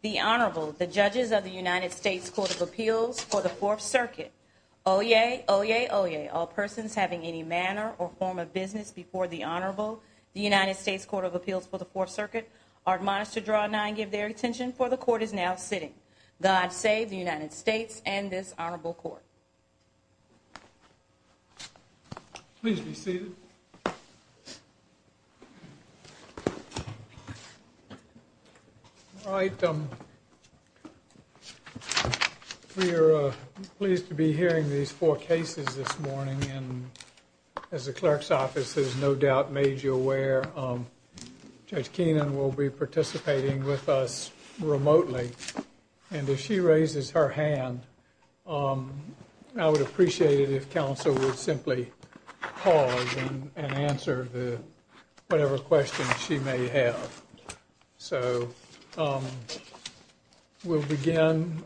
The Honorable, the judges of the United States Court of Appeals for the Fourth Circuit. Oyez, oyez, oyez. All persons having any manner or form of business before the Honorable, the United States Court of Appeals for the Fourth Circuit, are admonished to draw nine, give their attention, for the court is now sitting. God save the United States and this Honorable Court. Please be seated. All right. We are pleased to be hearing these four cases this morning, and as the clerk's office has no doubt made you aware, Judge Keenan will be participating with us remotely, and if she raises her hand, I would appreciate it if counsel would simply pause and answer whatever questions she may have. So we'll begin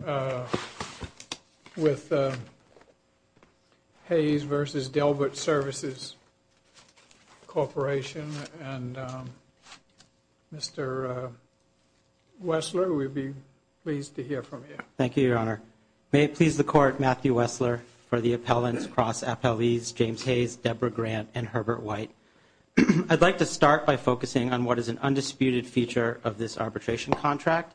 with Hayes v. Delbert Services Corporation, and Mr. Wessler, we'd be pleased to hear from you. Thank you, Your Honor. May it please the Court, Matthew Wessler, for the appellants, Cross Appellees James Hayes, Deborah Grant, and Herbert White. I'd like to start by focusing on what is an undisputed feature of this arbitration contract,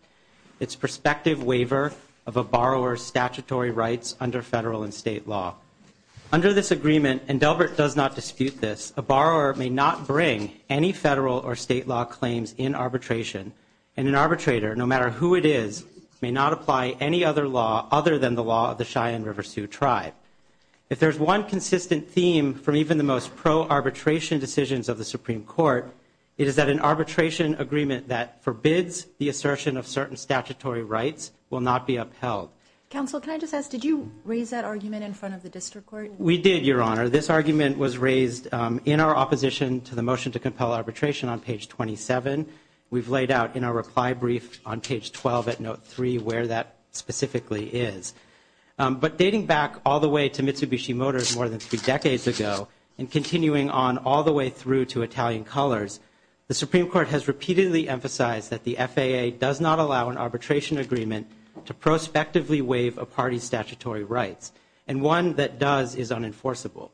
its prospective waiver of a borrower's statutory rights under federal and state law. Under this agreement, and Delbert does not dispute this, a borrower may not bring any federal or state law claims in arbitration, and an arbitrator, no matter who it is, may not apply any other law other than the law of the Cheyenne River Sioux Tribe. If there's one consistent theme from even the most pro-arbitration decisions of the Supreme Court, it is that an arbitration agreement that forbids the assertion of certain statutory rights will not be upheld. Counsel, can I just ask, did you raise that argument in front of the district court? We did, Your Honor. This argument was raised in our opposition to the motion to compel arbitration on page 27. We've laid out in our reply brief on page 12 at note 3 where that specifically is. But dating back all the way to Mitsubishi Motors more than three decades ago, and continuing on all the way through to Italian Colors, the Supreme Court has repeatedly emphasized that the FAA does not allow an arbitration agreement to prospectively waive a party's statutory rights. And one that does is unenforceable.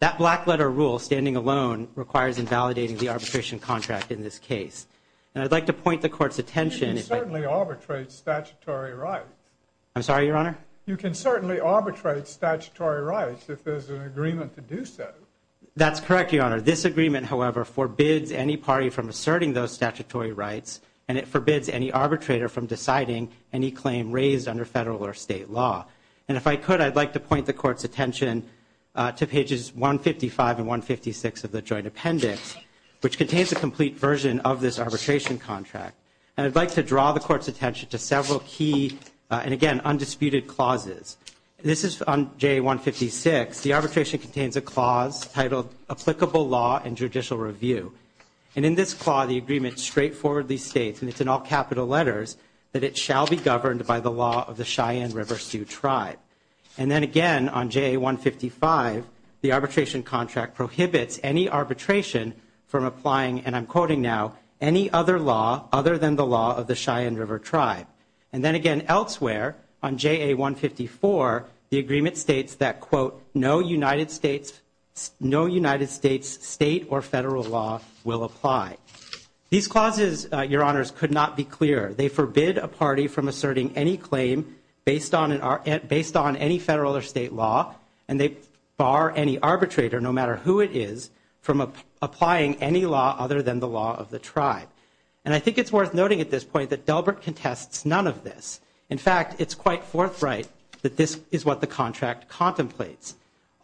That black letter rule, standing alone, requires invalidating the arbitration contract in this case. And I'd like to point the Court's attention. You can certainly arbitrate statutory rights. I'm sorry, Your Honor? You can certainly arbitrate statutory rights if there's an agreement to do so. That's correct, Your Honor. This agreement, however, forbids any party from asserting those statutory rights. And it forbids any arbitrator from deciding any claim raised under federal or state law. And if I could, I'd like to point the Court's attention to pages 155 and 156 of the joint appendix, which contains a complete version of this arbitration contract. And I'd like to draw the Court's attention to several key, and again, undisputed clauses. This is on JA-156. The arbitration contains a clause titled, Applicable Law and Judicial Review. And in this clause, the agreement straightforwardly states, and it's in all capital letters, that it shall be governed by the law of the Cheyenne River Sioux Tribe. And then again, on JA-155, the arbitration contract prohibits any arbitration from applying, and I'm quoting now, any other law other than the law of the Cheyenne River Tribe. And then again, elsewhere, on JA-154, the agreement states that, quote, no United States state or federal law will apply. These clauses, Your Honors, could not be clearer. They forbid a party from asserting any claim based on any federal or state law, and they bar any arbitrator, no matter who it is, from applying any law other than the law of the tribe. And I think it's worth noting at this point that Delbert contests none of this. In fact, it's quite forthright that this is what the contract contemplates.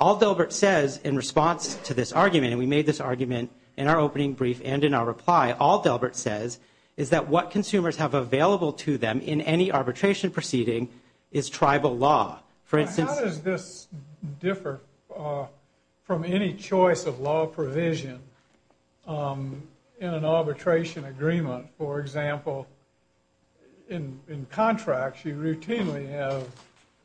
All Delbert says in response to this argument, and we made this argument in our opening brief and in our reply, all Delbert says is that what consumers have available to them in any arbitration proceeding is tribal law. For instance- How does this differ from any choice of law provision in an arbitration agreement? For example, in contracts, you routinely have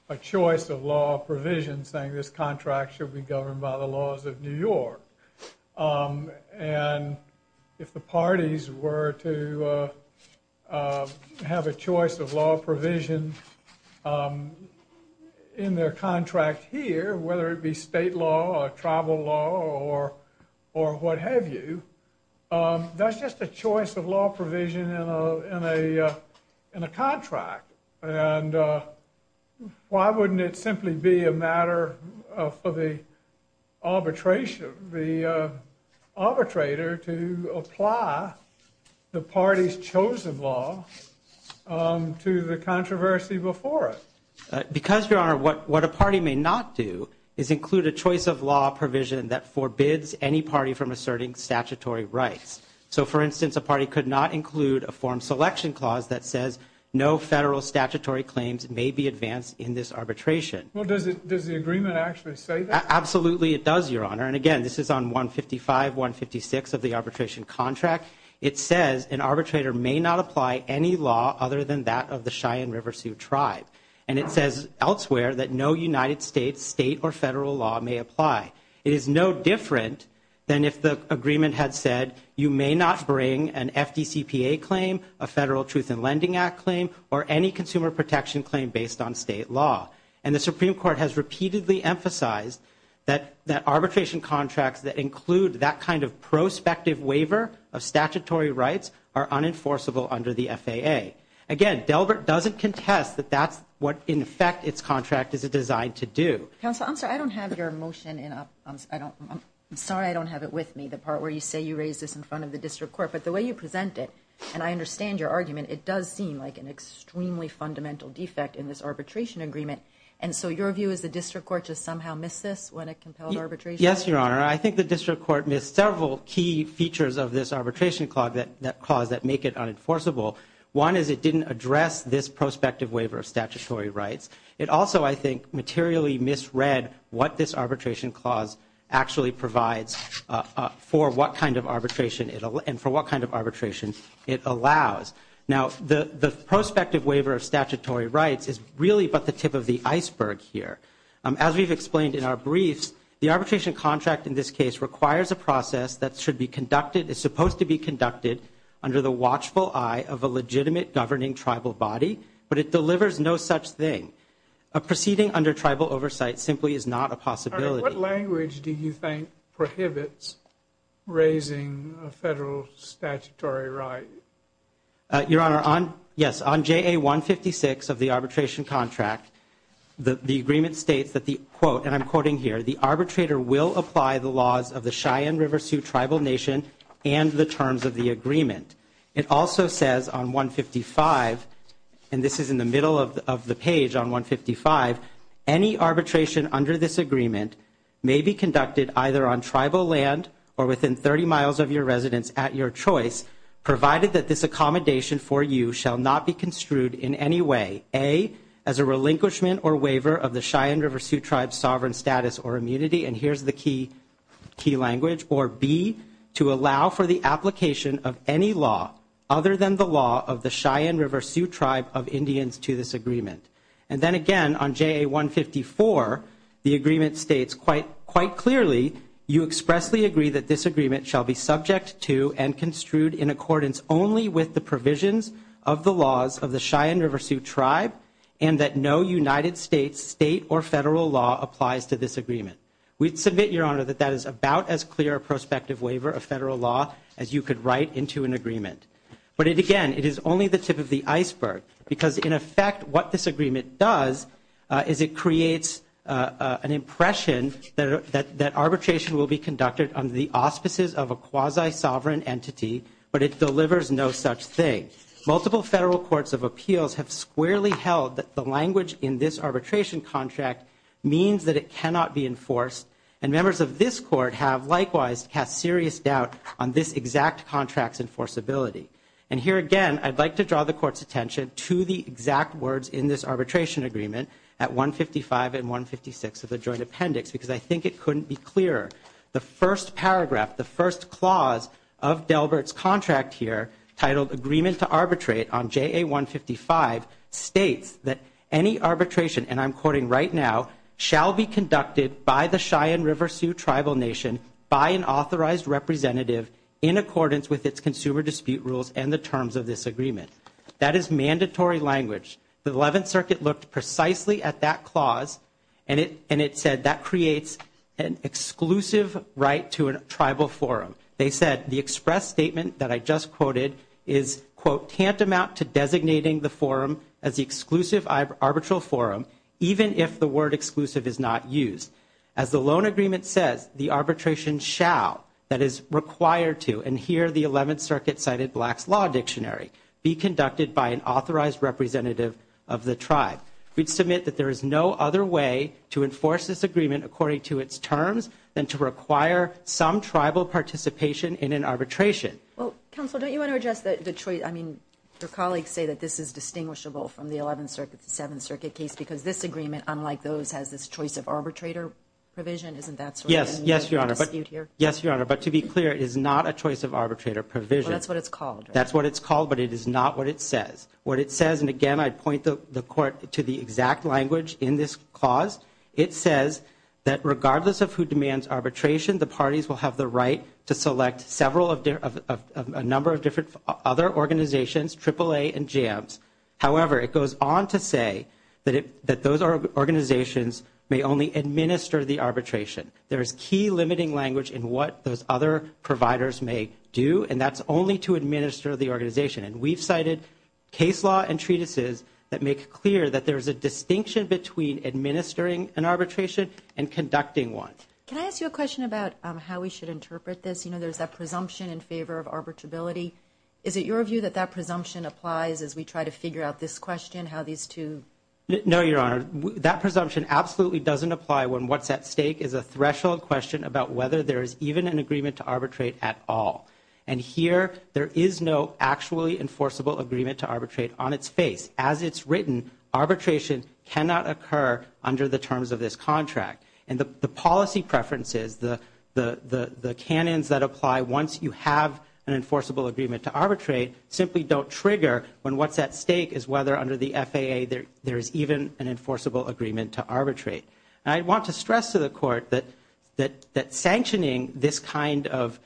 a choice of law provision saying this contract should be governed by the laws of New York. And if the parties were to have a choice of law provision in their contract here, whether it be state law or tribal law or what have you, that's just a choice of law provision in a contract. And why wouldn't it simply be a matter for the arbitrator to apply the party's chosen law to the controversy before it? Because, Your Honor, what a party may not do is include a choice of law provision that forbids any party from asserting statutory rights. So, for instance, a party could not include a form selection clause that says no federal statutory claims may be advanced in this arbitration. Well, does the agreement actually say that? Absolutely, it does, Your Honor. And again, this is on 155, 156 of the arbitration contract. It says an arbitrator may not apply any law other than that of the Cheyenne River Sioux tribe. And it says elsewhere that no United States state or federal law may apply. It is no different than if the agreement had said you may not bring an FDCPA claim, a Federal Truth in Lending Act claim, or any consumer protection claim based on state law. And the Supreme Court has repeatedly emphasized that arbitration contracts that include that kind of prospective waiver of statutory rights are unenforceable under the FAA. Again, Delbert doesn't contest that that's what, in effect, its contract is designed to do. Counsel, I'm sorry, I don't have your motion in a, I'm sorry, I don't have it with me, the part where you say you raised this in front of the district court. But the way you present it, and I understand your argument, it does seem like an extremely fundamental defect in this arbitration agreement. And so your view is the district court just somehow missed this when it compelled arbitration? Yes, Your Honor. I think the district court missed several key features of this arbitration clause that make it unenforceable. One is it didn't address this prospective waiver of statutory rights. It also, I think, materially misread what this arbitration clause actually provides for what kind of arbitration it, and for what kind of arbitration it allows. Now, the prospective waiver of statutory rights is really but the tip of the iceberg here. As we've explained in our briefs, the arbitration contract in this case requires a process that should be conducted, is supposed to be conducted under the watchful eye of a legitimate governing tribal body, but it delivers no such thing. A proceeding under tribal oversight simply is not a possibility. What language do you think prohibits raising a federal statutory right? Your Honor, on, yes, on JA 156 of the arbitration contract, the agreement states that the quote, and I'm quoting here, the arbitrator will apply the laws of the Cheyenne River Sioux Tribal Nation and the terms of the agreement. It also says on 155, and this is in the middle of the page on 155, any arbitration under this agreement may be conducted either on tribal land or within 30 miles of your residence at your choice, provided that this accommodation for you shall not be construed in any way. A, as a relinquishment or waiver of the Cheyenne River Sioux Tribe's sovereign status or immunity, and here's the key language. Or B, to allow for the application of any law other than the law of the Cheyenne River Sioux Tribe of Indians to this agreement. And then again on JA 154, the agreement states quite clearly, you expressly agree that this agreement shall be subject to and construed in accordance only with the provisions of the laws of the Cheyenne River Sioux Tribe, and that no United States state or federal law applies to this agreement. We'd submit, your honor, that that is about as clear a prospective waiver of federal law as you could write into an agreement. But it again, it is only the tip of the iceberg, because in effect what this agreement does, is it creates an impression that arbitration will be conducted under the auspices of a quasi-sovereign entity, but it delivers no such thing. Multiple federal courts of appeals have squarely held that the language in this arbitration contract means that it cannot be enforced. And members of this court have likewise cast serious doubt on this exact contract's enforceability. And here again, I'd like to draw the court's attention to the exact words in this arbitration agreement at 155 and 156 of the joint appendix. Because I think it couldn't be clearer. The first paragraph, the first clause of Delbert's contract here, titled Agreement to Arbitrate on JA 155, states that any arbitration, and I'm quoting right now, shall be conducted by the Cheyenne River Sioux Tribal Nation by an authorized representative in accordance with its consumer dispute rules and the terms of this agreement. That is mandatory language. The 11th Circuit looked precisely at that clause and it said that creates an exclusive right to a tribal forum. They said the express statement that I just quoted is, quote, tantamount to designating the forum as the exclusive arbitral forum, even if the word exclusive is not used. As the loan agreement says, the arbitration shall, that is required to, and here the 11th Circuit cited Black's Law Dictionary, be conducted by an authorized representative of the tribe. We'd submit that there is no other way to enforce this agreement according to its terms than to require some tribal participation in an arbitration. Well, counsel, don't you want to address the choice? I mean, your colleagues say that this is distinguishable from the 11th Circuit, the 7th Circuit case, because this agreement, unlike those, has this choice of arbitrator provision. Isn't that so? Yes. Yes, Your Honor. But, yes, Your Honor. But to be clear, it is not a choice of arbitrator provision. Well, that's what it's called. That's what it's called, but it is not what it says. What it says, and again, I'd point the Court to the exact language in this clause, it says that regardless of who demands arbitration, the parties will have the right to select several of, a number of different other organizations, AAA and JAMS. However, it goes on to say that those organizations may only administer the arbitration. There is key limiting language in what those other providers may do, and that's only to administer the organization. And we've cited case law and treatises that make clear that there's a distinction between administering an arbitration and conducting one. Can I ask you a question about how we should interpret this? You know, there's that presumption in favor of arbitrability. Is it your view that that presumption applies as we try to figure out this question, how these two? No, Your Honor. That presumption absolutely doesn't apply when what's at stake is a threshold question about whether there is even an agreement to arbitrate at all. And here, there is no actually enforceable agreement to arbitrate on its face. As it's written, arbitration cannot occur under the terms of this contract. And the policy preferences, the canons that apply once you have an enforceable agreement to arbitrate simply don't trigger when what's at stake is whether under the FAA there is even an enforceable agreement to arbitrate. And I want to stress to the Court that sanctioning this kind of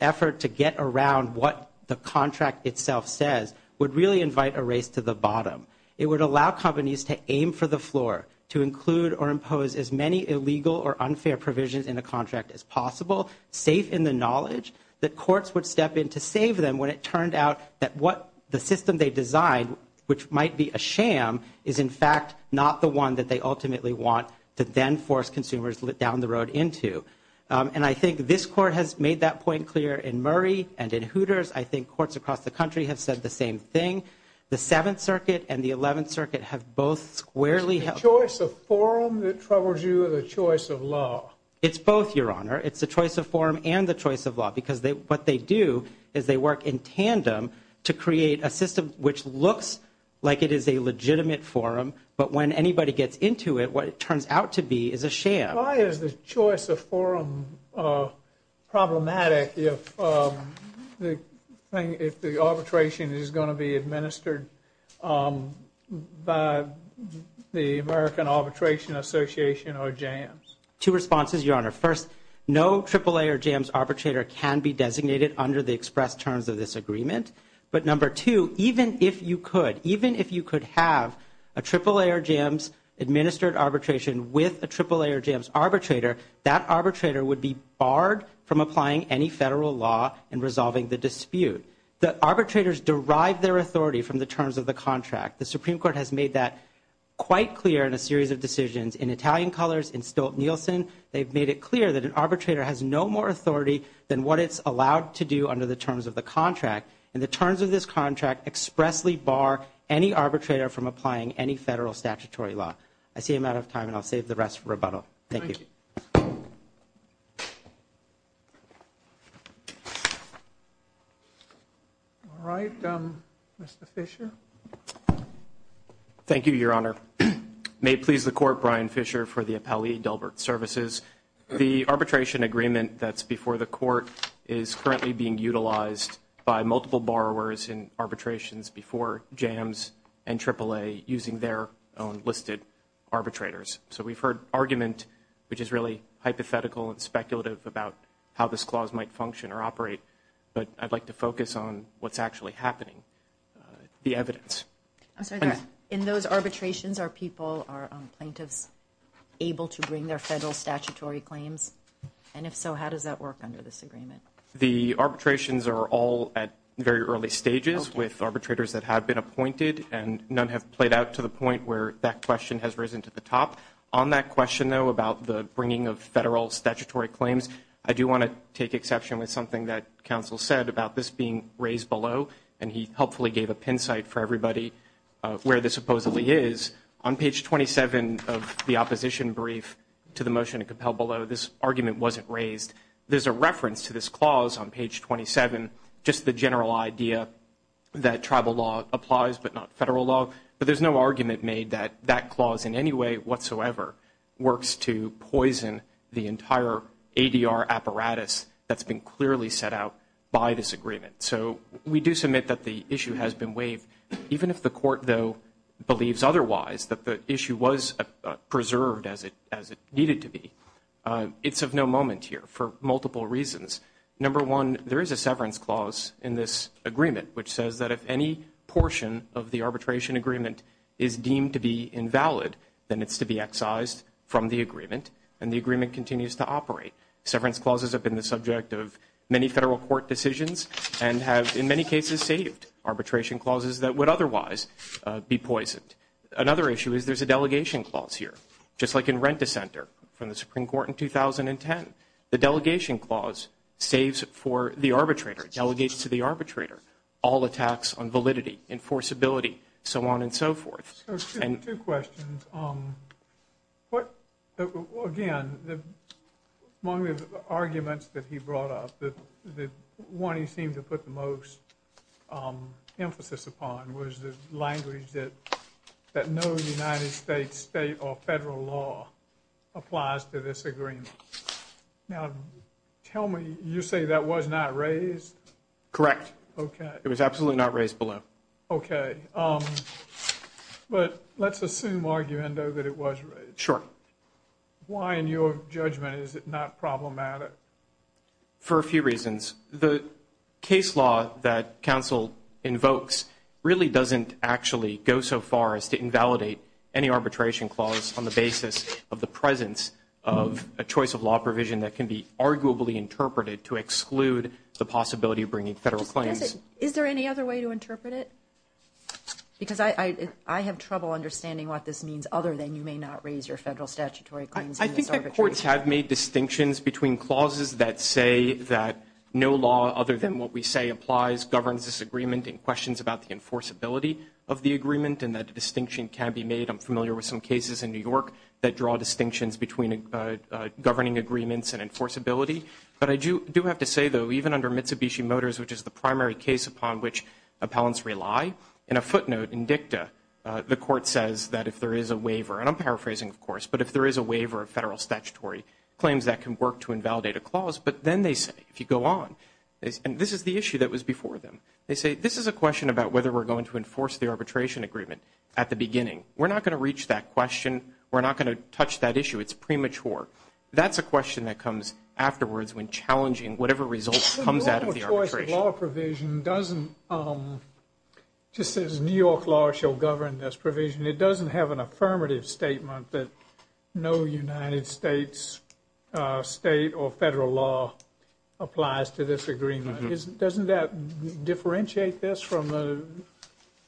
effort to get around what the contract itself says would really invite a race to the bottom. It would allow companies to aim for the floor, to include or impose as many illegal or unfair provisions in a contract as possible, safe in the knowledge that courts would step in to save them when it turned out that what the system they designed, which might be a sham, is in fact not the one that they ultimately want to then force consumers down the road into. And I think this Court has made that point clear in Murray and in Hooters. I think courts across the country have said the same thing. The Seventh Circuit and the Eleventh Circuit have both squarely held... It's the choice of forum that troubles you or the choice of law? It's both, Your Honor. It's the choice of forum and the choice of law, because what they do is they work in tandem to create a system which looks like it is a legitimate forum, but when anybody gets into it, what it turns out to be is a sham. Why is the choice of forum problematic if the arbitration is going to be administered by the American Arbitration Association or JAMS? Two responses, Your Honor. First, no AAA or JAMS arbitrator can be designated under the express terms of this agreement. But number two, even if you could, even if you could have a AAA or JAMS administered arbitration with a AAA or JAMS arbitrator, that arbitrator would be barred from applying any federal law in resolving the dispute. The arbitrators derive their authority from the terms of the contract. The Supreme Court has made that quite clear in a series of decisions. In Italian Colors, in Stolt-Nielsen, they've made it clear that an arbitrator has no more authority than what it's allowed to do under the terms of the contract, and the terms of this contract expressly bar any arbitrator from applying any federal statutory law. I see I'm out of time, and I'll save the rest for rebuttal. Thank you. Thank you. All right, Mr. Fisher. Thank you, Your Honor. May it please the Court, Brian Fisher for the appellee, Delbert Services. The arbitration agreement that's before the Court is currently being utilized by multiple borrowers in arbitrations before JAMS and AAA using their own listed arbitrators. So we've heard argument, which is really hypothetical and speculative about how this clause might function or operate. But I'd like to focus on what's actually happening, the evidence. I'm sorry, in those arbitrations, are people, are plaintiffs able to bring their federal statutory claims? And if so, how does that work under this agreement? The arbitrations are all at very early stages with arbitrators that have been appointed, and none have played out to the point where that question has risen to the top. On that question, though, about the bringing of federal statutory claims, I do want to take exception with something that counsel said about this being raised below, and he helpfully gave a pin site for everybody where this supposedly is. On page 27 of the opposition brief to the motion to compel below, this argument wasn't raised. There's a reference to this clause on page 27, just the general idea that tribal law applies but not federal law. But there's no argument made that that clause in any way whatsoever works to poison the entire ADR apparatus that's been clearly set out by this agreement. So we do submit that the issue has been waived. Even if the court, though, believes otherwise, that the issue was preserved as it needed to be, it's of no moment here for multiple reasons. Number one, there is a severance clause in this agreement which says that if any portion of the arbitration agreement is deemed to be invalid, then it's to be excised from the agreement, and the agreement continues to operate. Severance clauses have been the subject of many federal court decisions, and have in many cases saved arbitration clauses that would otherwise be poisoned. Another issue is there's a delegation clause here, just like in Rent-a-Center from the Supreme Court in 2010. The delegation clause saves for the arbitrator, delegates to the arbitrator, all attacks on validity, enforceability, so on and so forth. So two questions. What, again, among the arguments that he brought up, the one he seemed to put the most emphasis upon was the language that no United States state or federal law applies to this agreement. Now, tell me, you say that was not raised? Correct. Okay. It was absolutely not raised below. Okay. But let's assume, arguendo, that it was raised. Sure. Why, in your judgment, is it not problematic? For a few reasons. The case law that counsel invokes really doesn't actually go so far as to invalidate any arbitration clause on the basis of the presence of a choice of law provision that can be arguably interpreted to exclude the possibility of bringing federal claims. Is there any other way to interpret it? Because I have trouble understanding what this means other than you may not raise your federal statutory claims in this arbitration. I think that courts have made distinctions between clauses that say that no law other than what we say applies governs this agreement and questions about the enforceability of the agreement and that distinction can be made. I'm familiar with some cases in New York that draw distinctions between governing agreements and enforceability. But I do have to say, though, even under Mitsubishi Motors, which is the primary case upon which appellants rely, in a footnote in dicta, the court says that if there is a waiver, and I'm paraphrasing, of course, but if there is a waiver of federal statutory claims that can work to invalidate a clause, but then they say, if you go on, and this is the issue that was before them, they say this is a question about whether we're going to enforce the arbitration agreement at the beginning. We're not going to reach that question. We're not going to touch that issue. It's premature. That's a question that comes afterwards when challenging whatever result comes out of the arbitration. The normal choice of law provision doesn't, just as New York law shall govern this provision, it doesn't have an affirmative statement that no United States state or federal law applies to this agreement. Doesn't that differentiate this from the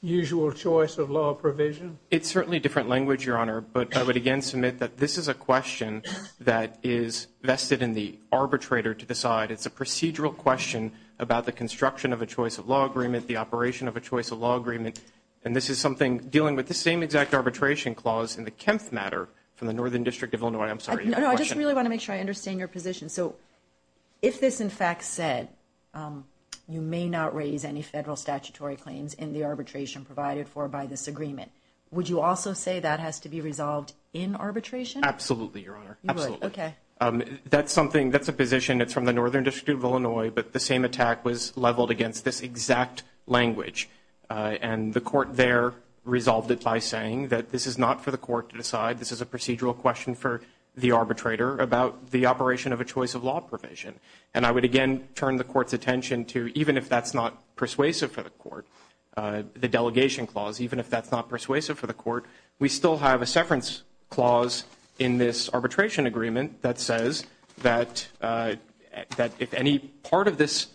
usual choice of law provision? It's certainly different language, Your Honor, but I would again submit that this is a question that is vested in the arbitrator to decide. It's a procedural question about the construction of a choice of law agreement, the operation of a choice of law agreement, and this is something dealing with the same exact arbitration clause in the Kempth matter from the Northern District of Illinois. I'm sorry, your question. No, no, I just really want to make sure I understand your position. So if this, in fact, said you may not raise any federal statutory claims in the arbitration provided for by this agreement, would you also say that has to be resolved in arbitration? Absolutely, Your Honor. Absolutely. You would, okay. That's something, that's a position, it's from the Northern District of Illinois, but the same attack was leveled against this exact language. And the court there resolved it by saying that this is not for the court to decide, this is a procedural question for the arbitrator about the operation of a choice of law provision. And I would again turn the court's attention to even if that's not persuasive for the court, the delegation clause, even if that's not persuasive for the court, we still have a severance clause in this arbitration agreement that says that if any part of this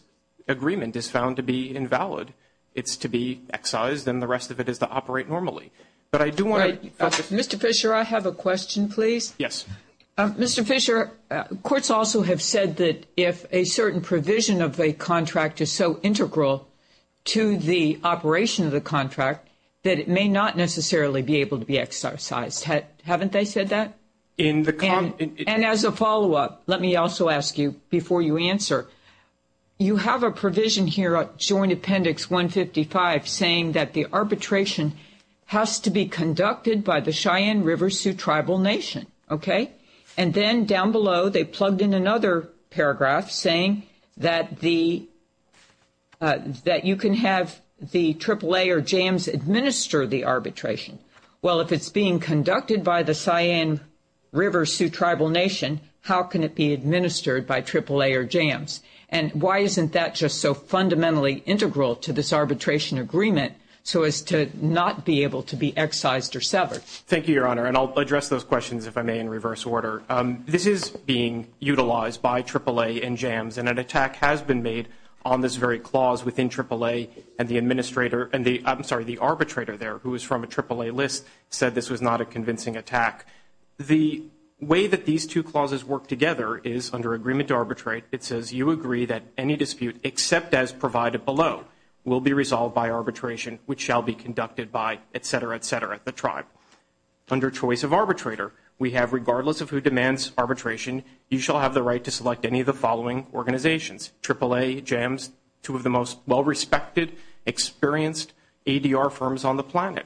agreement is found to be invalid, it's to be excised, then the rest of it is to operate normally. But I do want to Mr. Fisher, I have a question, please. Yes. Mr. Fisher, courts also have said that if a certain provision of a contract is so integral to the operation of the contract, that it may not necessarily be able to be excised. Haven't they said that? In the- And as a follow-up, let me also ask you before you answer, you have a provision here at Joint Appendix 155 saying that the arbitration has to be conducted by the Cheyenne River Sioux Tribal Nation, okay? And then down below, they plugged in another paragraph saying that the- that you can have the AAA or JAMS administer the arbitration. Well, if it's being conducted by the Cheyenne River Sioux Tribal Nation, how can it be administered by AAA or JAMS? And why isn't that just so fundamentally integral to this arbitration agreement so as to not be able to be excised or severed? Thank you, Your Honor, and I'll address those questions, if I may, in reverse order. This is being utilized by AAA and JAMS, and an attack has been made on this very clause within AAA, and the administrator- I'm sorry, the arbitrator there who is from a AAA list said this was not a convincing attack. The way that these two clauses work together is under agreement to arbitrate, it says you agree that any dispute except as provided below will be resolved by arbitration which shall be conducted by, et cetera, et cetera, the tribe. Under choice of arbitrator, we have regardless of who demands arbitration, you shall have the right to select any of the following organizations, AAA, JAMS, two of the most well-respected, experienced ADR firms on the planet.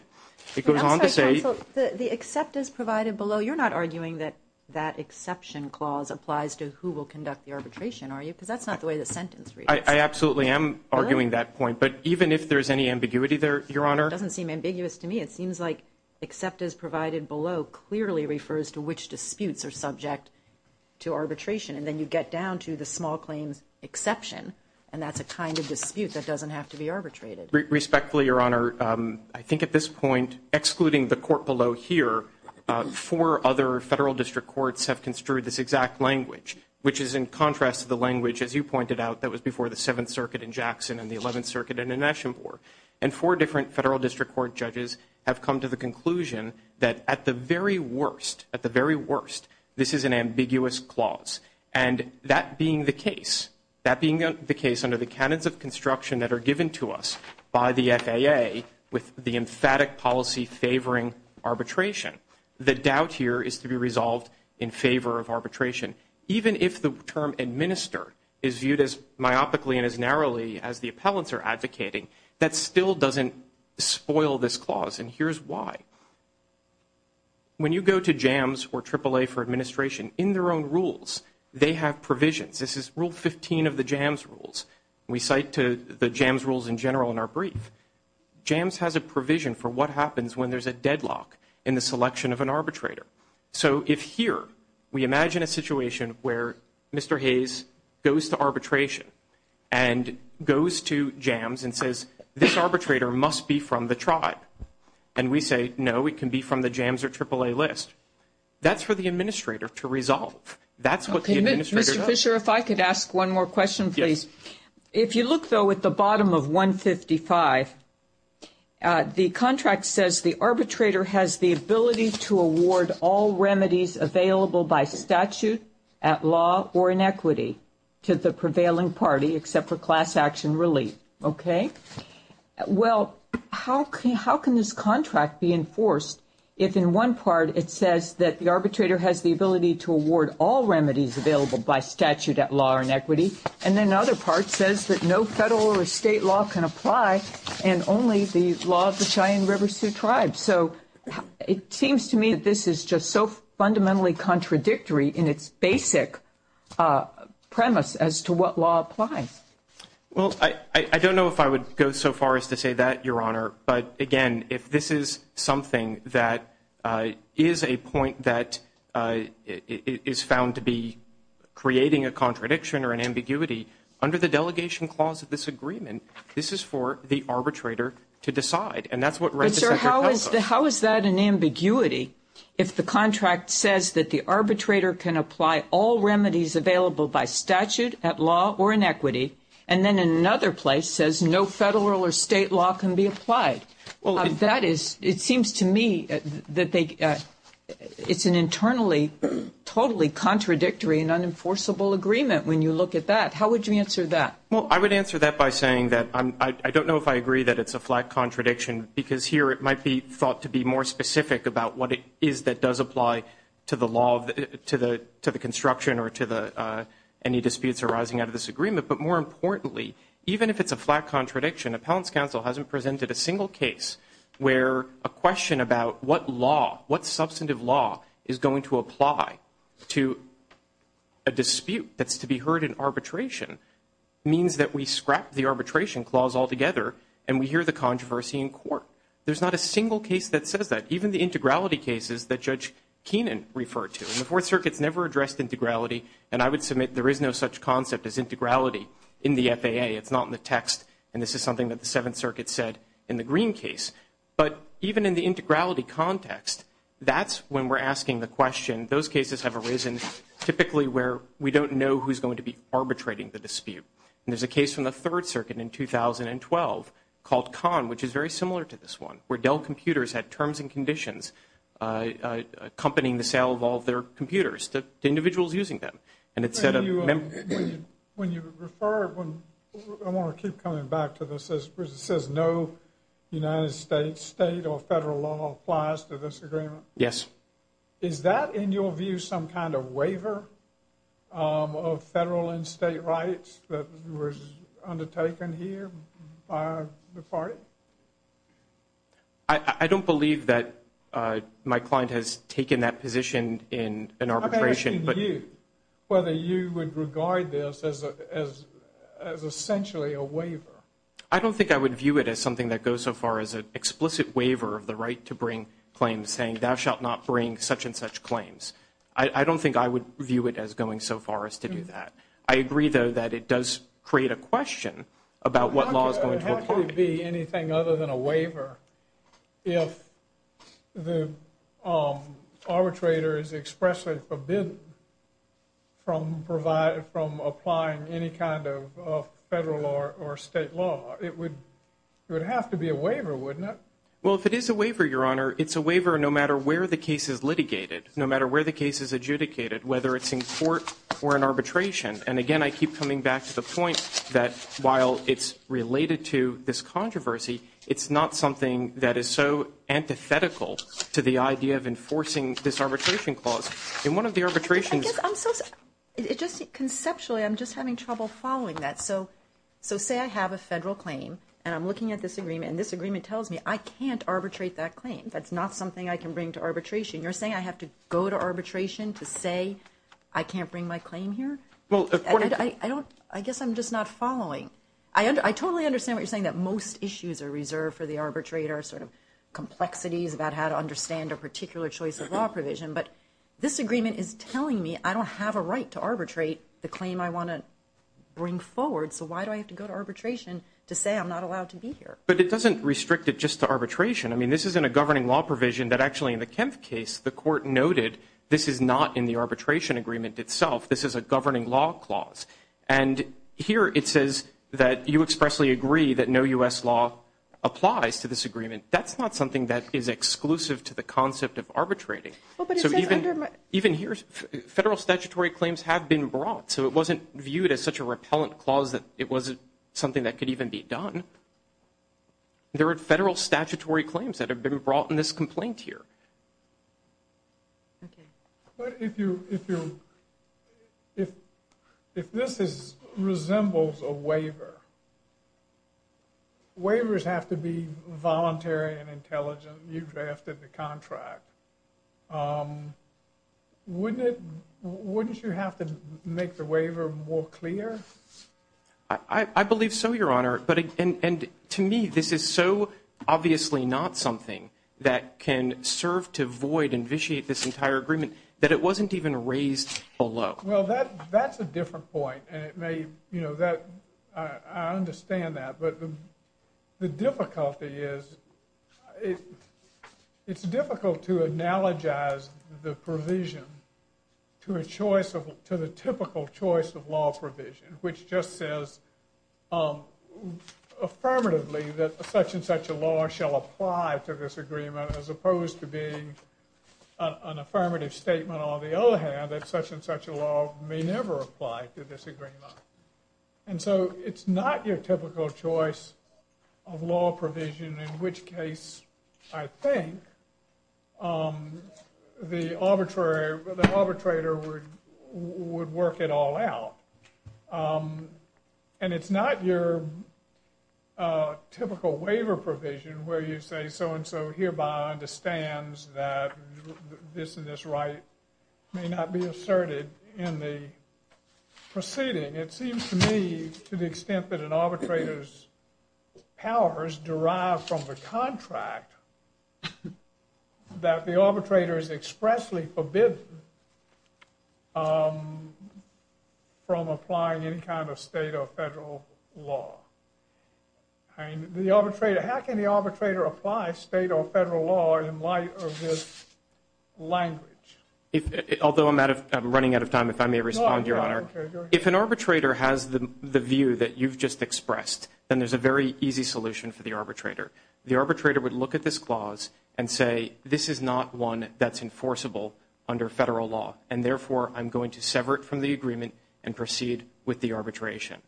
It goes on to say- I'm sorry, counsel, the except as provided below, you're not arguing that that exception clause applies to who will conduct the arbitration, are you, because that's not the way the sentence reads. I absolutely am arguing that point. But even if there's any ambiguity there, Your Honor- It doesn't seem ambiguous to me. It seems like except as provided below clearly refers to which disputes are subject to arbitration. And then you get down to the small claims exception, and that's a kind of dispute that doesn't have to be arbitrated. Respectfully, Your Honor, I think at this point, excluding the court below here, four other federal district courts have construed this exact language, which is in contrast to the language, as you pointed out, that was before the 7th Circuit in Jackson and the 11th Circuit in Anishnabeg. And four different federal district court judges have come to the conclusion that at the very worst, at the very worst, this is an ambiguous clause. And that being the case, that being the case under the canons of construction that are given to us by the FAA with the emphatic policy favoring arbitration, the doubt here is to be resolved in favor of arbitration. Even if the term administer is viewed as myopically and as narrowly as the appellants are advocating, that still doesn't spoil this clause. And here's why. When you go to JAMS or AAA for administration, in their own rules, they have provisions. This is Rule 15 of the JAMS rules. We cite to the JAMS rules in general in our brief. JAMS has a provision for what happens when there's a deadlock in the selection of an arbitrator. So if here, we imagine a situation where Mr. Hayes goes to arbitration and goes to JAMS and says this arbitrator must be from the tribe. And we say, no, it can be from the JAMS or AAA list. That's for the administrator to resolve. That's what the administrator does. Mr. Fisher, if I could ask one more question, please. If you look, though, at the bottom of 155, the contract says the arbitrator has the ability to award all remedies available by statute at law or in equity to the prevailing party except for class action relief. Okay. Well, how can this contract be enforced if in one part it says that the arbitrator has the ability to award all remedies available by statute at law or in equity and then the other part says that no federal or state law can apply and only the law of the Cheyenne River Sioux tribe. So it seems to me that this is just so fundamentally contradictory in its basic premise as to what law applies. Well, I don't know if I would go so far as to say that, Your Honor. But again, if this is something that is a point that is found to be creating a contradiction or an ambiguity, under the delegation clause of this agreement, this is for the arbitrator to decide. And that's what writes the Secretary of Counsel. But, sir, how is that an ambiguity if the contract says that the arbitrator can apply all remedies available by statute at law or in equity and then in another place says no federal or state law can be applied? That is, it seems to me that it's an internally totally contradictory and unenforceable agreement when you look at that. How would you answer that? Well, I would answer that by saying that I don't know if I agree that it's a flat contradiction because here it might be thought to be more specific about what it is that does apply to the construction or to any disputes arising out of this agreement. But more importantly, even if it's a flat contradiction, Appellant's Counsel hasn't presented a single case where a question about what law, what substantive law is going to apply to a dispute that's to be heard in arbitration means that we scrap the arbitration clause altogether and we hear the controversy in court. There's not a single case that says that, even the integrality cases that Judge Keenan referred to. And the Fourth Circuit's never addressed integrality. And I would submit there is no such concept as integrality in the FAA. It's not in the text. And this is something that the Seventh Circuit said in the Green case. But even in the integrality context, that's when we're asking the question. Those cases have arisen typically where we don't know who's going to be arbitrating the dispute. And there's a case from the Third Circuit in 2012 called Kahn, which is very similar to this one, where Dell Computers had terms and conditions accompanying the sale of all of their computers to individuals using them. And it said a member. When you refer, I want to keep coming back to this. It says no United States state or federal law applies to this agreement. Yes. Is that in your view some kind of waiver of federal and state rights that was undertaken here by the party? I don't believe that my client has taken that position in an arbitration. I'm asking you whether you would regard this as essentially a waiver. I don't think I would view it as something that goes so far as an explicit waiver of the right to bring claims saying thou shalt not bring such and such claims. I don't think I would view it as going so far as to do that. I agree, though, that it does create a question about what law is going to apply. How could it be anything other than a waiver if the arbitrator is expressly forbidden from applying any kind of federal or state law? It would have to be a waiver, wouldn't it? Well, if it is a waiver, Your Honor, it's a waiver no matter where the case is litigated, no matter where the case is adjudicated, whether it's in court or in arbitration. And again, I keep coming back to the point that while it's related to this controversy, it's not something that is so antithetical to the idea of enforcing this arbitration clause. In one of the arbitrations – I guess I'm so – it just – conceptually, I'm just having trouble following that. So say I have a federal claim and I'm looking at this agreement and this agreement tells me I can't arbitrate that claim. That's not something I can bring to arbitration. You're saying I have to go to arbitration to say I can't bring my claim here? Well, according to – I don't – I guess I'm just not following. I totally understand what you're saying, that most issues are reserved for the arbitrator, sort of complexities about how to understand a particular choice of law provision. But this agreement is telling me I don't have a right to arbitrate the claim I want to bring forward. So why do I have to go to arbitration to say I'm not allowed to be here? But it doesn't restrict it just to arbitration. I mean, this isn't a governing law provision that actually in the Kempf case, the court noted this is not in the arbitration agreement itself. This is a governing law clause. And here it says that you expressly agree that no U.S. law applies to this agreement. That's not something that is exclusive to the concept of arbitrating. So even here, federal statutory claims have been brought. So it wasn't viewed as such a repellent clause that it wasn't something that could even be done. There are federal statutory claims that have been brought in this complaint here. But if this resembles a waiver, waivers have to be voluntary and intelligent, you drafted the contract, wouldn't you have to make the waiver more clear? I believe so, Your Honor. To me, this is so obviously not something that can serve to void and vitiate this entire agreement that it wasn't even raised below. Well, that's a different point. I understand that. It's difficult to analogize the provision to the typical choice of law provision, which just says affirmatively that such and such a law shall apply to this agreement as opposed to being an affirmative statement on the other hand, that such and such a law may never apply to this agreement. And so it's not your typical choice of law provision, in which case I think the arbitrator would work it all out. And it's not your typical waiver provision where you say so and so hereby understands that this and this right may not be asserted in the proceeding. It seems to me to the extent that an arbitrator's powers derive from the contract that the arbitrator is expressly forbidden from applying any kind of state or federal law. How can the arbitrator apply state or federal law in light of this language? Although I'm running out of time, if I may respond, Your Honor. Go ahead. If an arbitrator has the view that you've just expressed, then there's a very easy solution for the arbitrator. The arbitrator would look at this clause and say, this is not one that's enforceable under federal law, and therefore I'm going to sever it from the agreement and proceed with the arbitration.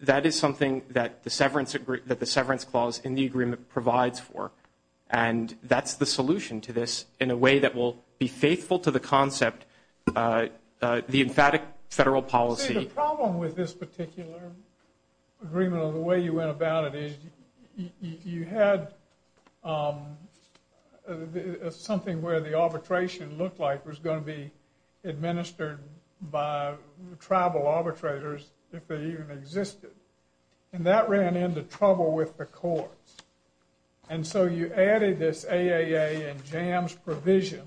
That is something that the severance clause in the agreement provides for, and that's the solution to this in a way that will be faithful to the concept, the emphatic federal policy. I think the problem with this particular agreement or the way you went about it is you had something where the arbitration looked like it was going to be administered by tribal arbitrators if they even existed, and that ran into trouble with the courts. And so you added this AAA and JAMS provision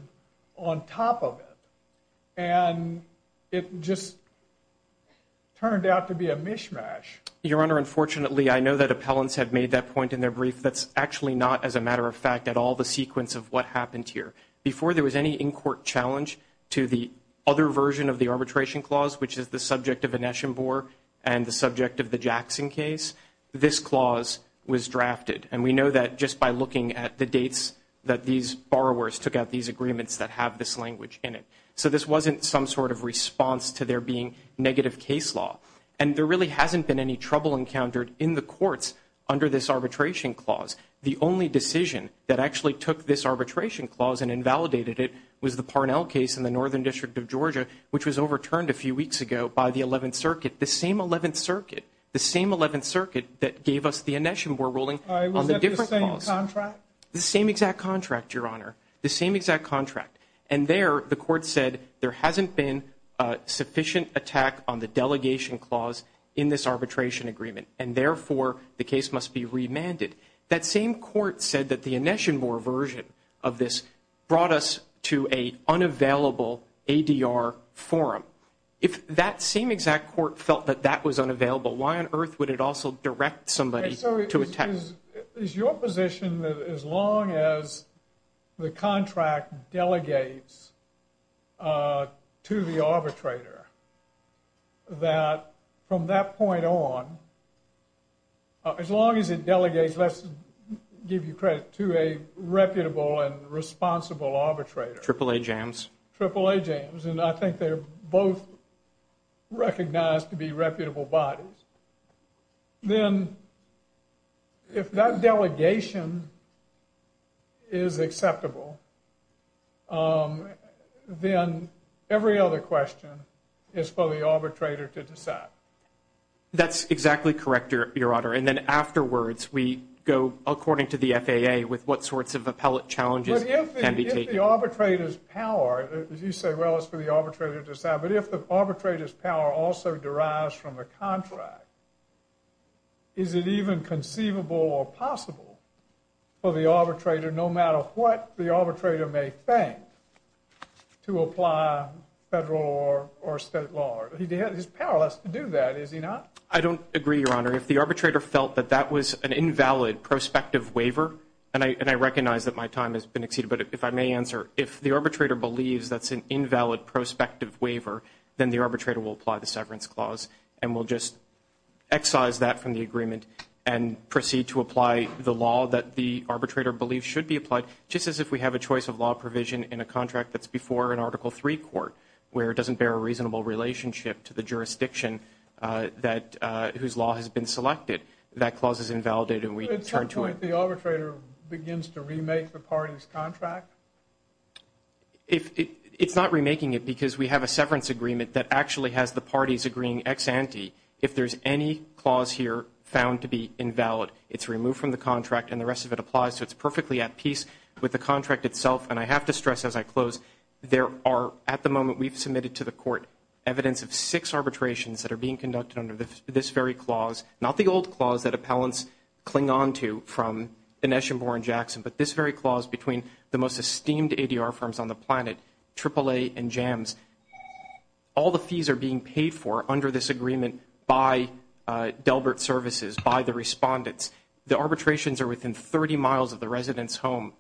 on top of it, and it just turned out to be a mishmash. Your Honor, unfortunately, I know that appellants have made that point in their brief. That's actually not, as a matter of fact, at all the sequence of what happened here. Before there was any in-court challenge to the other version of the arbitration clause, which is the subject of Anesh and Boer and the subject of the Jackson case, this clause was drafted. And we know that just by looking at the dates that these borrowers took out these agreements that have this language in it. So this wasn't some sort of response to there being negative case law. And there really hasn't been any trouble encountered in the courts under this arbitration clause. The only decision that actually took this arbitration clause and invalidated it was the Parnell case in the Northern District of Georgia, which was overturned a few weeks ago by the 11th Circuit, the same 11th Circuit, the same 11th Circuit that gave us the Anesh and Boer ruling on the different clause. Was that the same contract? The same exact contract, Your Honor, the same exact contract. And there the court said there hasn't been sufficient attack on the delegation clause in this arbitration agreement, and therefore the case must be remanded. That same court said that the Anesh and Boer version of this brought us to an unavailable ADR forum. If that same exact court felt that that was unavailable, why on earth would it also direct somebody to attack it? Is your position that as long as the contract delegates to the arbitrator, that from that point on, as long as it delegates, let's give you credit, to a reputable and responsible arbitrator? AAA James. AAA James. And I think they're both recognized to be reputable bodies. Then if that delegation is acceptable, then every other question is for the arbitrator to decide. That's exactly correct, Your Honor. And then afterwards we go according to the FAA with what sorts of appellate challenges can be taken. But if the arbitrator's power, as you say, well, it's for the arbitrator to decide, but if the arbitrator's power also derives from the contract, is it even conceivable or possible for the arbitrator, no matter what the arbitrator may think, to apply federal or state law? His power has to do that, is he not? I don't agree, Your Honor. If the arbitrator felt that that was an invalid prospective waiver, and I recognize that my time has been exceeded, but if I may answer, if the arbitrator believes that's an invalid prospective waiver, then the arbitrator will apply the severance clause and will just excise that from the agreement and proceed to apply the law that the arbitrator believes should be applied, just as if we have a choice of law provision in a contract that's before an Article III court, where it doesn't bear a reasonable relationship to the jurisdiction whose law has been selected. That clause is invalidated and we turn to it. If the arbitrator begins to remake the party's contract? It's not remaking it because we have a severance agreement that actually has the parties agreeing ex ante. If there's any clause here found to be invalid, it's removed from the contract and the rest of it applies, so it's perfectly at peace with the contract itself. And I have to stress as I close, there are, at the moment we've submitted to the court, evidence of six arbitrations that are being conducted under this very clause, not the old clause that appellants cling on to from Dinesh and Boren Jackson, but this very clause between the most esteemed ADR firms on the planet, AAA and JAMS. All the fees are being paid for under this agreement by Delbert Services, by the respondents. The arbitrations are within 30 miles of the resident's home.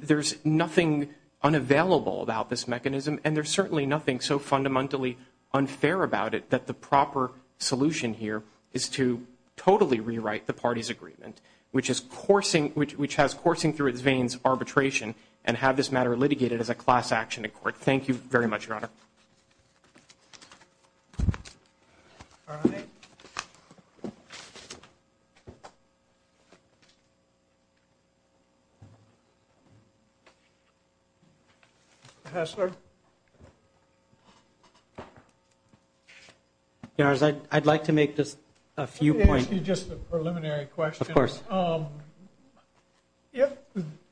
There's nothing unavailable about this mechanism and there's certainly nothing so fundamentally unfair about it that the proper solution here is to totally rewrite the party's agreement, which has coursing through its veins arbitration and have this matter litigated as a class action in court. Thank you very much, Your Honor. All right. Mr. Hassler? Your Honor, I'd like to make just a few points. Let me ask you just a preliminary question. Of course.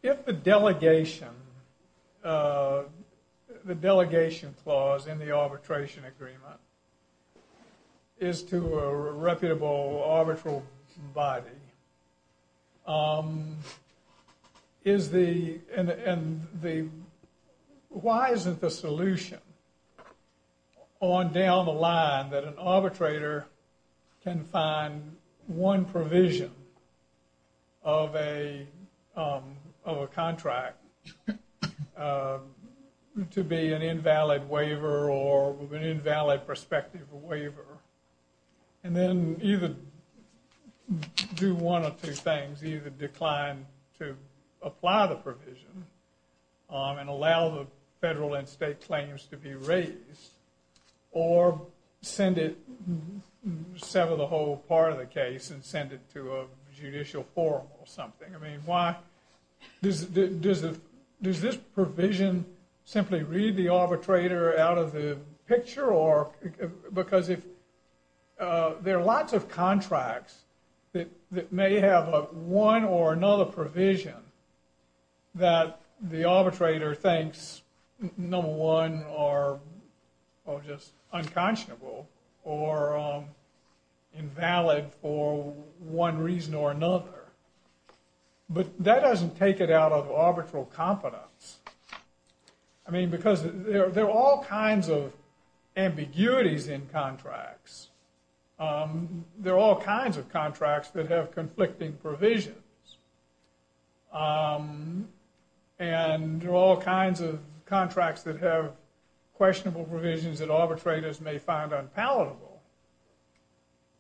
If the delegation clause in the arbitration agreement is to a reputable arbitral body, why isn't the solution on down the line that an arbitrator can find one provision of a contract to be an invalid waiver or an invalid prospective waiver and then either do one of two things, either decline to apply the provision and allow the federal and state claims to be raised or send it, sever the whole part of the case and send it to a judicial forum or something? I mean, why? Does this provision simply read the arbitrator out of the picture because there are lots of contracts that may have one or another provision that the arbitrator thinks, number one, are just unconscionable or invalid for one reason or another. But that doesn't take it out of arbitral competence. I mean, because there are all kinds of ambiguities in contracts. There are all kinds of contracts that have conflicting provisions. And there are all kinds of contracts that have questionable provisions that arbitrators may find unpalatable.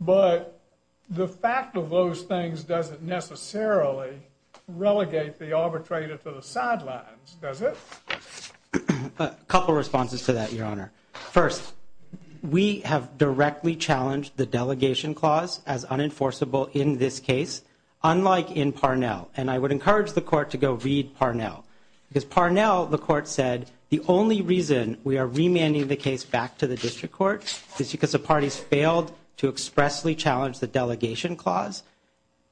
But the fact of those things doesn't necessarily relegate the arbitrator to the sidelines, does it? A couple of responses to that, Your Honor. First, we have directly challenged the delegation clause as unenforceable in this case, unlike in Parnell. And I would encourage the court to go read Parnell. Because Parnell, the court said, the only reason we are remanding the case back to the district court is because the parties failed to expressly challenge the delegation clause.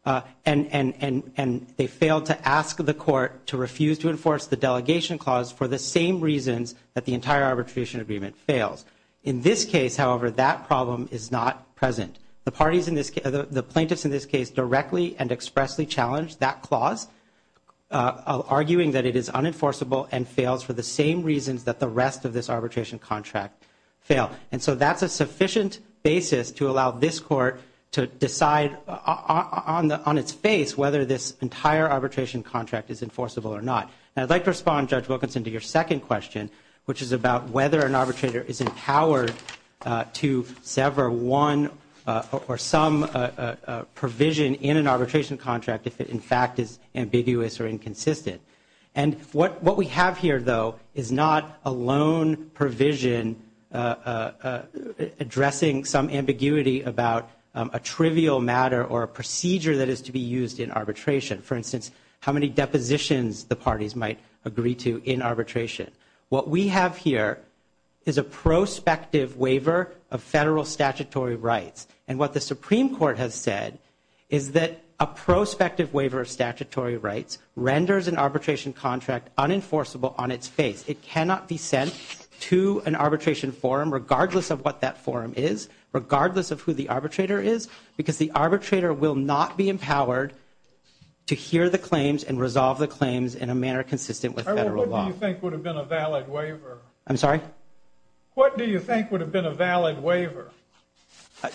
And they failed to ask the court to refuse to enforce the delegation clause for the same reasons that the entire arbitration agreement fails. In this case, however, that problem is not present. The plaintiffs in this case directly and expressly challenged that clause, arguing that it is unenforceable and fails for the same reasons that the rest of this arbitration contract fail. And so that's a sufficient basis to allow this court to decide on its face whether this entire arbitration contract is enforceable or not. And I'd like to respond, Judge Wilkinson, to your second question, which is about whether an arbitrator is empowered to sever one or some provision in an arbitration contract if it, in fact, is ambiguous or inconsistent. And what we have here, though, is not a loan provision addressing some ambiguity about a trivial matter or a procedure that is to be used in arbitration. For instance, how many depositions the parties might agree to in arbitration. What we have here is a prospective waiver of federal statutory rights. And what the Supreme Court has said is that a prospective waiver of statutory rights renders an arbitration contract unenforceable on its face. It cannot be sent to an arbitration forum, regardless of what that forum is, regardless of who the arbitrator is, because the arbitrator will not be empowered to hear the claims and resolve the claims in a manner consistent with federal law. What do you think would have been a valid waiver? I'm sorry? What do you think would have been a valid waiver?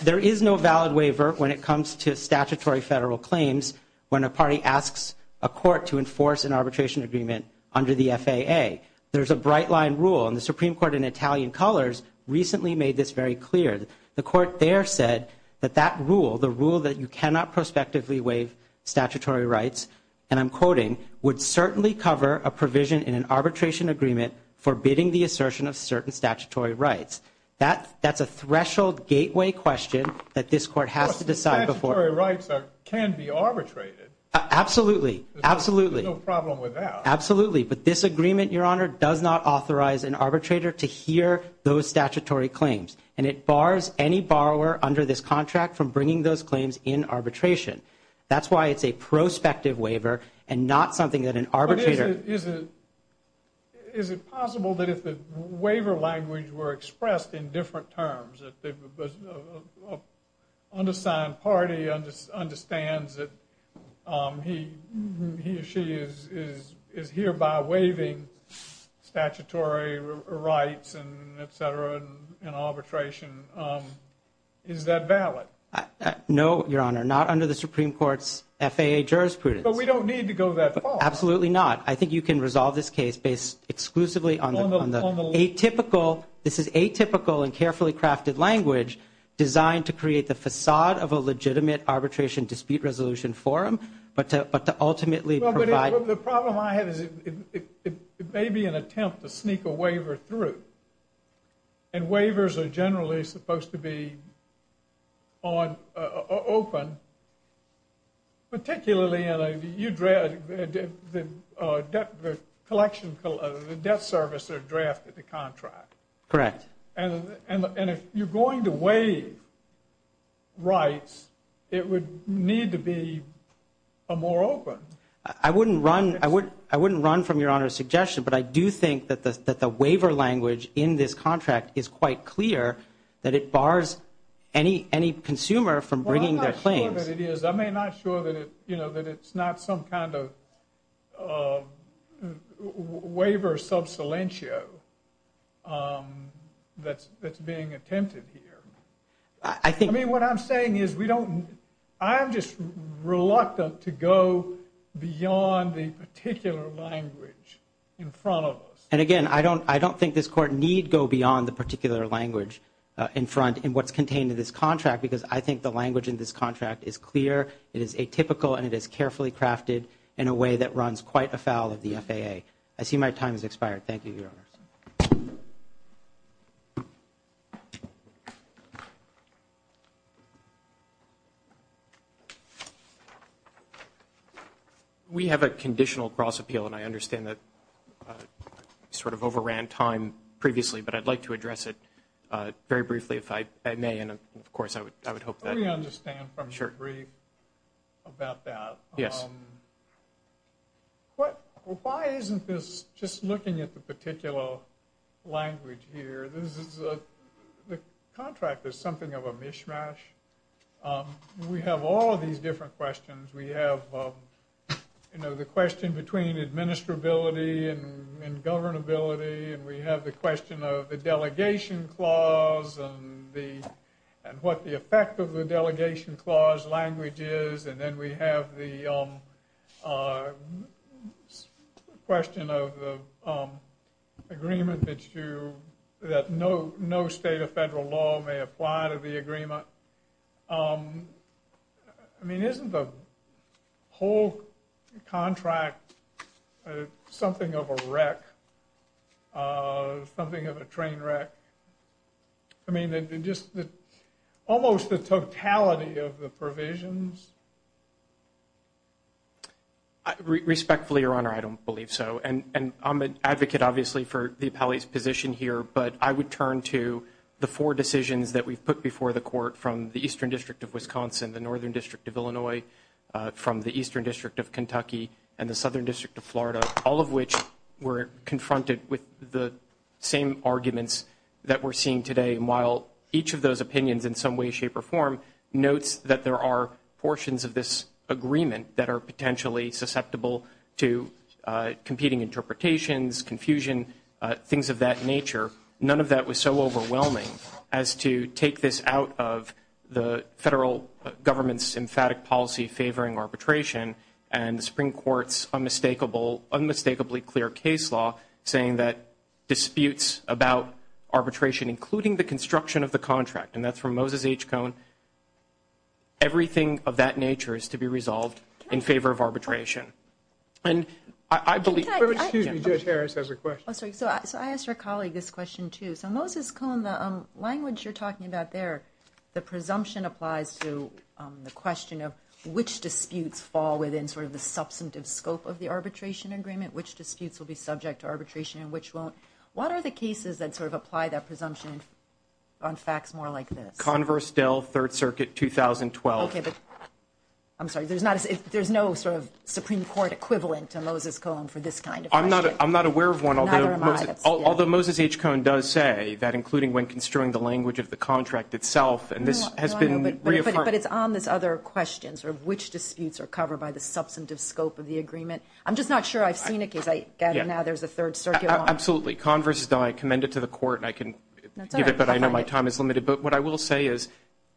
There is no valid waiver when it comes to statutory federal claims when a party asks a court to enforce an arbitration agreement under the FAA. There's a bright line rule, and the Supreme Court in Italian colors recently made this very clear. The court there said that that rule, the rule that you cannot prospectively waive statutory rights, and I'm quoting, would certainly cover a provision in an arbitration agreement forbidding the assertion of certain statutory rights. That's a threshold gateway question that this court has to decide before. Statutory rights can be arbitrated. Absolutely. Absolutely. There's no problem with that. Absolutely. But this agreement, Your Honor, does not authorize an arbitrator to hear those statutory claims, and it bars any borrower under this contract from bringing those claims in arbitration. That's why it's a prospective waiver and not something that an arbitrator. Is it possible that if the waiver language were expressed in different terms, that an undersigned party understands that he or she is hereby waiving statutory rights, et cetera, in arbitration? Is that valid? No, Your Honor, not under the Supreme Court's FAA jurisprudence. But we don't need to go that far. Absolutely not. I think you can resolve this case based exclusively on the atypical and carefully crafted language designed to create the facade of a legitimate arbitration dispute resolution forum, but to ultimately provide. The problem I have is it may be an attempt to sneak a waiver through, and waivers are generally supposed to be open, particularly in the debt service or draft of the contract. Correct. And if you're going to waive rights, it would need to be more open. I wouldn't run from Your Honor's suggestion, but I do think that the waiver language in this contract is quite clear, that it bars any consumer from bringing their claims. Well, I'm not sure that it is. I'm not sure that it's not some kind of waiver sub silentio that's being attempted here. I mean, what I'm saying is I'm just reluctant to go beyond the particular language in front of us. And again, I don't think this Court need go beyond the particular language in front in what's contained in this contract because I think the language in this contract is clear, it is atypical, and it is carefully crafted in a way that runs quite afoul of the FAA. I see my time has expired. Thank you, Your Honor. Thank you. We have a conditional cross appeal, and I understand that we sort of overran time previously, but I'd like to address it very briefly if I may, and, of course, I would hope that. Let me understand from the brief about that. Yes. Why isn't this just looking at the particular language here? The contract is something of a mishmash. We have all of these different questions. We have, you know, the question between administrability and governability, and we have the question of the delegation clause and what the effect of the delegation clause language is, and then we have the question of the agreement that no state or federal law may apply to the agreement. I mean, isn't the whole contract something of a wreck, something of a train wreck? I mean, just almost the totality of the provisions? Respectfully, Your Honor, I don't believe so, and I'm an advocate, obviously, for the appellee's position here, but I would turn to the four decisions that we've put before the court from the Eastern District of Wisconsin, the Northern District of Illinois, from the Eastern District of Kentucky, and the Southern District of Florida, all of which were confronted with the same arguments that we're seeing today. And while each of those opinions in some way, shape, or form notes that there are portions of this agreement that are potentially susceptible to competing interpretations, confusion, things of that nature, none of that was so overwhelming as to take this out of the federal government's emphatic policy favoring arbitration and the Supreme Court's unmistakably clear case law saying that disputes about arbitration, including the construction of the contract, and that's from Moses H. Cohn, everything of that nature is to be resolved in favor of arbitration. And I believe – Excuse me, Judge Harris has a question. So I asked our colleague this question, too. So Moses Cohn, the language you're talking about there, the presumption applies to the question of which disputes fall within sort of the substantive scope of the arbitration agreement, which disputes will be subject to arbitration and which won't. What are the cases that sort of apply that presumption on facts more like this? Converse, Dell, Third Circuit, 2012. Okay, but I'm sorry, there's no sort of Supreme Court equivalent to Moses Cohn for this kind of question? I'm not aware of one, although Moses H. Cohn does say that, No, I know, but it's on this other question, sort of which disputes are covered by the substantive scope of the agreement. I'm just not sure I've seen it because I gather now there's a Third Circuit one. Absolutely. Converse, Dell, I commend it to the Court, and I can give it, but I know my time is limited. But what I will say is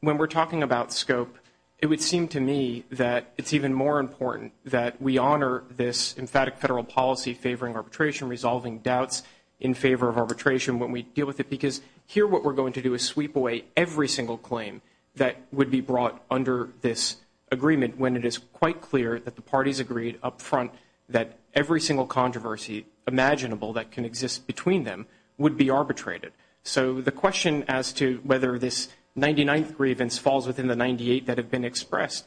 when we're talking about scope, it would seem to me that it's even more important that we honor this emphatic federal policy favoring arbitration, resolving doubts in favor of arbitration when we deal with it, because here what we're going to do is sweep away every single claim that would be brought under this agreement when it is quite clear that the parties agreed up front that every single controversy imaginable that can exist between them would be arbitrated. So the question as to whether this 99th grievance falls within the 98 that have been expressed,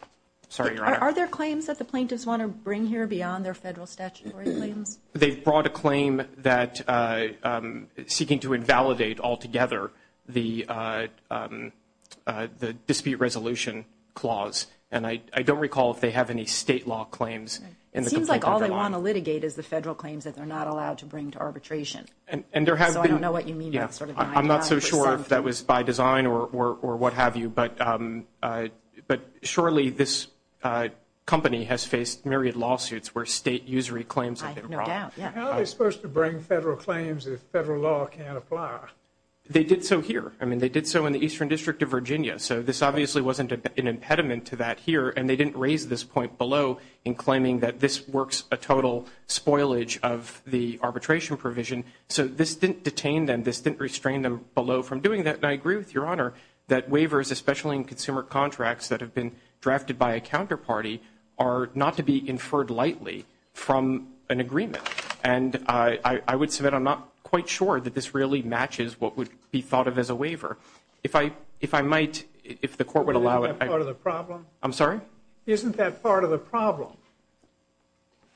sorry, Your Honor. Are there claims that the plaintiffs want to bring here beyond their federal statutory claims? They've brought a claim that seeking to invalidate altogether the dispute resolution clause, and I don't recall if they have any state law claims in the complaint under law. It seems like all they want to litigate is the federal claims that they're not allowed to bring to arbitration. And there have been. So I don't know what you mean by sort of 9,000 percent. I'm not so sure if that was by design or what have you, but surely this company has faced myriad lawsuits where state usury claims have been brought. I have no doubt. How are they supposed to bring federal claims if federal law can't apply? They did so here. I mean, they did so in the Eastern District of Virginia. So this obviously wasn't an impediment to that here, and they didn't raise this point below in claiming that this works a total spoilage of the arbitration provision. So this didn't detain them. This didn't restrain them below from doing that. And I agree with Your Honor that waivers, especially in consumer contracts that have been drafted by a counterparty, are not to be inferred lightly from an agreement. And I would submit I'm not quite sure that this really matches what would be thought of as a waiver. If I might, if the Court would allow it. Isn't that part of the problem? I'm sorry? Isn't that part of the problem?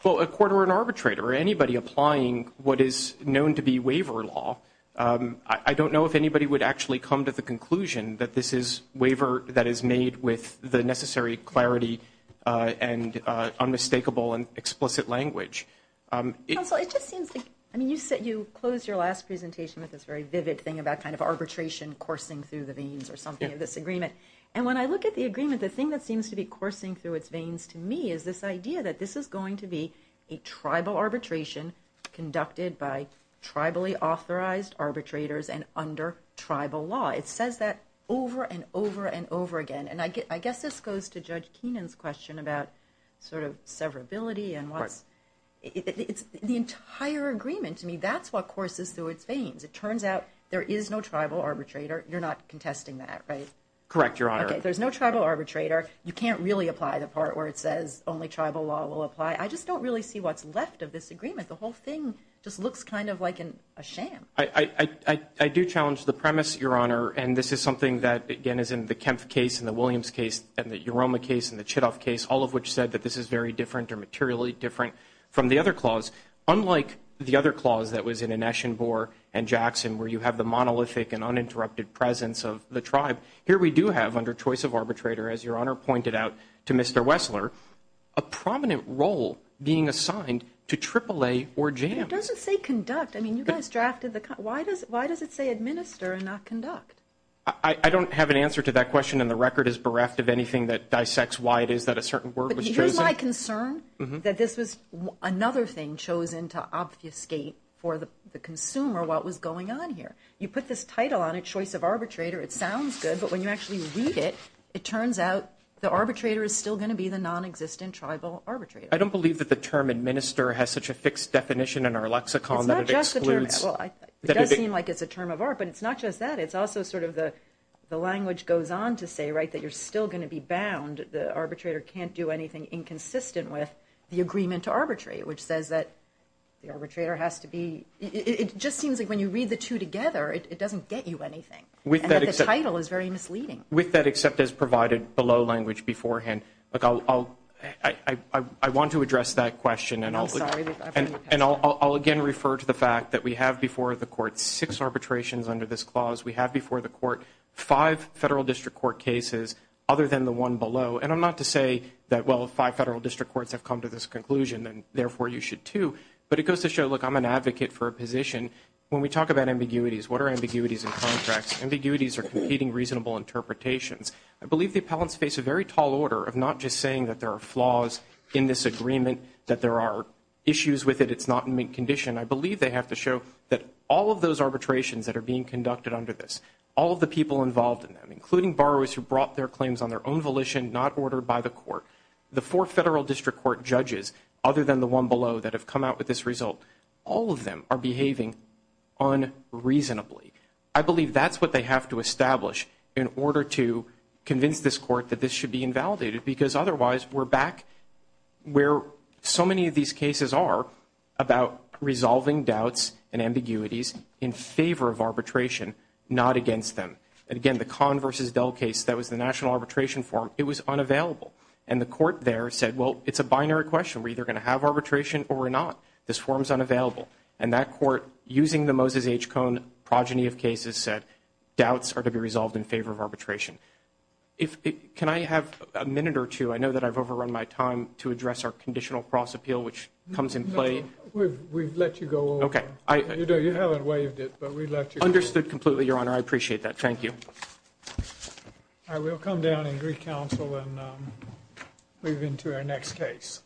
Well, a court or an arbitrator or anybody applying what is known to be waiver law, I don't know if anybody would actually come to the conclusion that this is waiver that is made with the necessary clarity and unmistakable and explicit language. Counsel, it just seems like, I mean, you said you closed your last presentation with this very vivid thing about kind of arbitration coursing through the veins or something of this agreement. And when I look at the agreement, the thing that seems to be coursing through its veins to me is this idea that this is going to be a tribal arbitration conducted by tribally authorized arbitrators and under tribal law. It says that over and over and over again. And I guess this goes to Judge Keenan's question about sort of severability. The entire agreement to me, that's what courses through its veins. It turns out there is no tribal arbitrator. You're not contesting that, right? Correct, Your Honor. Okay, there's no tribal arbitrator. You can't really apply the part where it says only tribal law will apply. I just don't really see what's left of this agreement. The whole thing just looks kind of like a sham. I do challenge the premise, Your Honor, and this is something that, again, is in the Kempf case and the Williams case and the Uroma case and the Chitoff case, all of which said that this is very different or materially different from the other clause. Unlike the other clause that was in Eneshan, Boer, and Jackson, where you have the monolithic and uninterrupted presence of the tribe, here we do have under choice of arbitrator, as Your Honor pointed out to Mr. Wessler, a prominent role being assigned to AAA or JAMA. It doesn't say conduct. I mean, you guys drafted the – why does it say administer and not conduct? I don't have an answer to that question, and the record is bereft of anything that dissects why it is that a certain word was chosen. But here's my concern, that this was another thing chosen to obfuscate for the consumer what was going on here. You put this title on it, choice of arbitrator. It sounds good, but when you actually read it, it turns out the arbitrator is still going to be the nonexistent tribal arbitrator. I don't believe that the term administer has such a fixed definition in our lexicon that it excludes. It's not just a term. Well, it does seem like it's a term of art, but it's not just that. It's also sort of the language goes on to say, right, that you're still going to be bound. The arbitrator can't do anything inconsistent with the agreement to arbitrate, which says that the arbitrator has to be – it just seems like when you read the two together, it doesn't get you anything. And that the title is very misleading. With that, except as provided below language beforehand, I want to address that question. I'm sorry. And I'll again refer to the fact that we have before the court six arbitrations under this clause. We have before the court five Federal District Court cases other than the one below. And I'm not to say that, well, five Federal District Courts have come to this conclusion, and therefore you should too. When we talk about ambiguities, what are ambiguities in contracts? Ambiguities are competing reasonable interpretations. I believe the appellants face a very tall order of not just saying that there are flaws in this agreement, that there are issues with it, it's not in mint condition. I believe they have to show that all of those arbitrations that are being conducted under this, all of the people involved in them, including borrowers who brought their claims on their own volition, not ordered by the court, the four Federal District Court judges other than the one below that have come out with this result, all of them are behaving unreasonably. I believe that's what they have to establish in order to convince this court that this should be invalidated, because otherwise we're back where so many of these cases are about resolving doubts and ambiguities in favor of arbitration, not against them. And again, the Kahn v. Dell case, that was the National Arbitration Forum, it was unavailable. And the court there said, well, it's a binary question. We're either going to have arbitration or we're not. This forum's unavailable. And that court, using the Moses H. Cohn progeny of cases, said doubts are to be resolved in favor of arbitration. Can I have a minute or two? I know that I've overrun my time to address our conditional cross appeal, which comes in play. We've let you go over. You haven't waived it, but we let you go. Understood completely, Your Honor. I appreciate that. Thank you. I will come down in Greek counsel and move into our next case.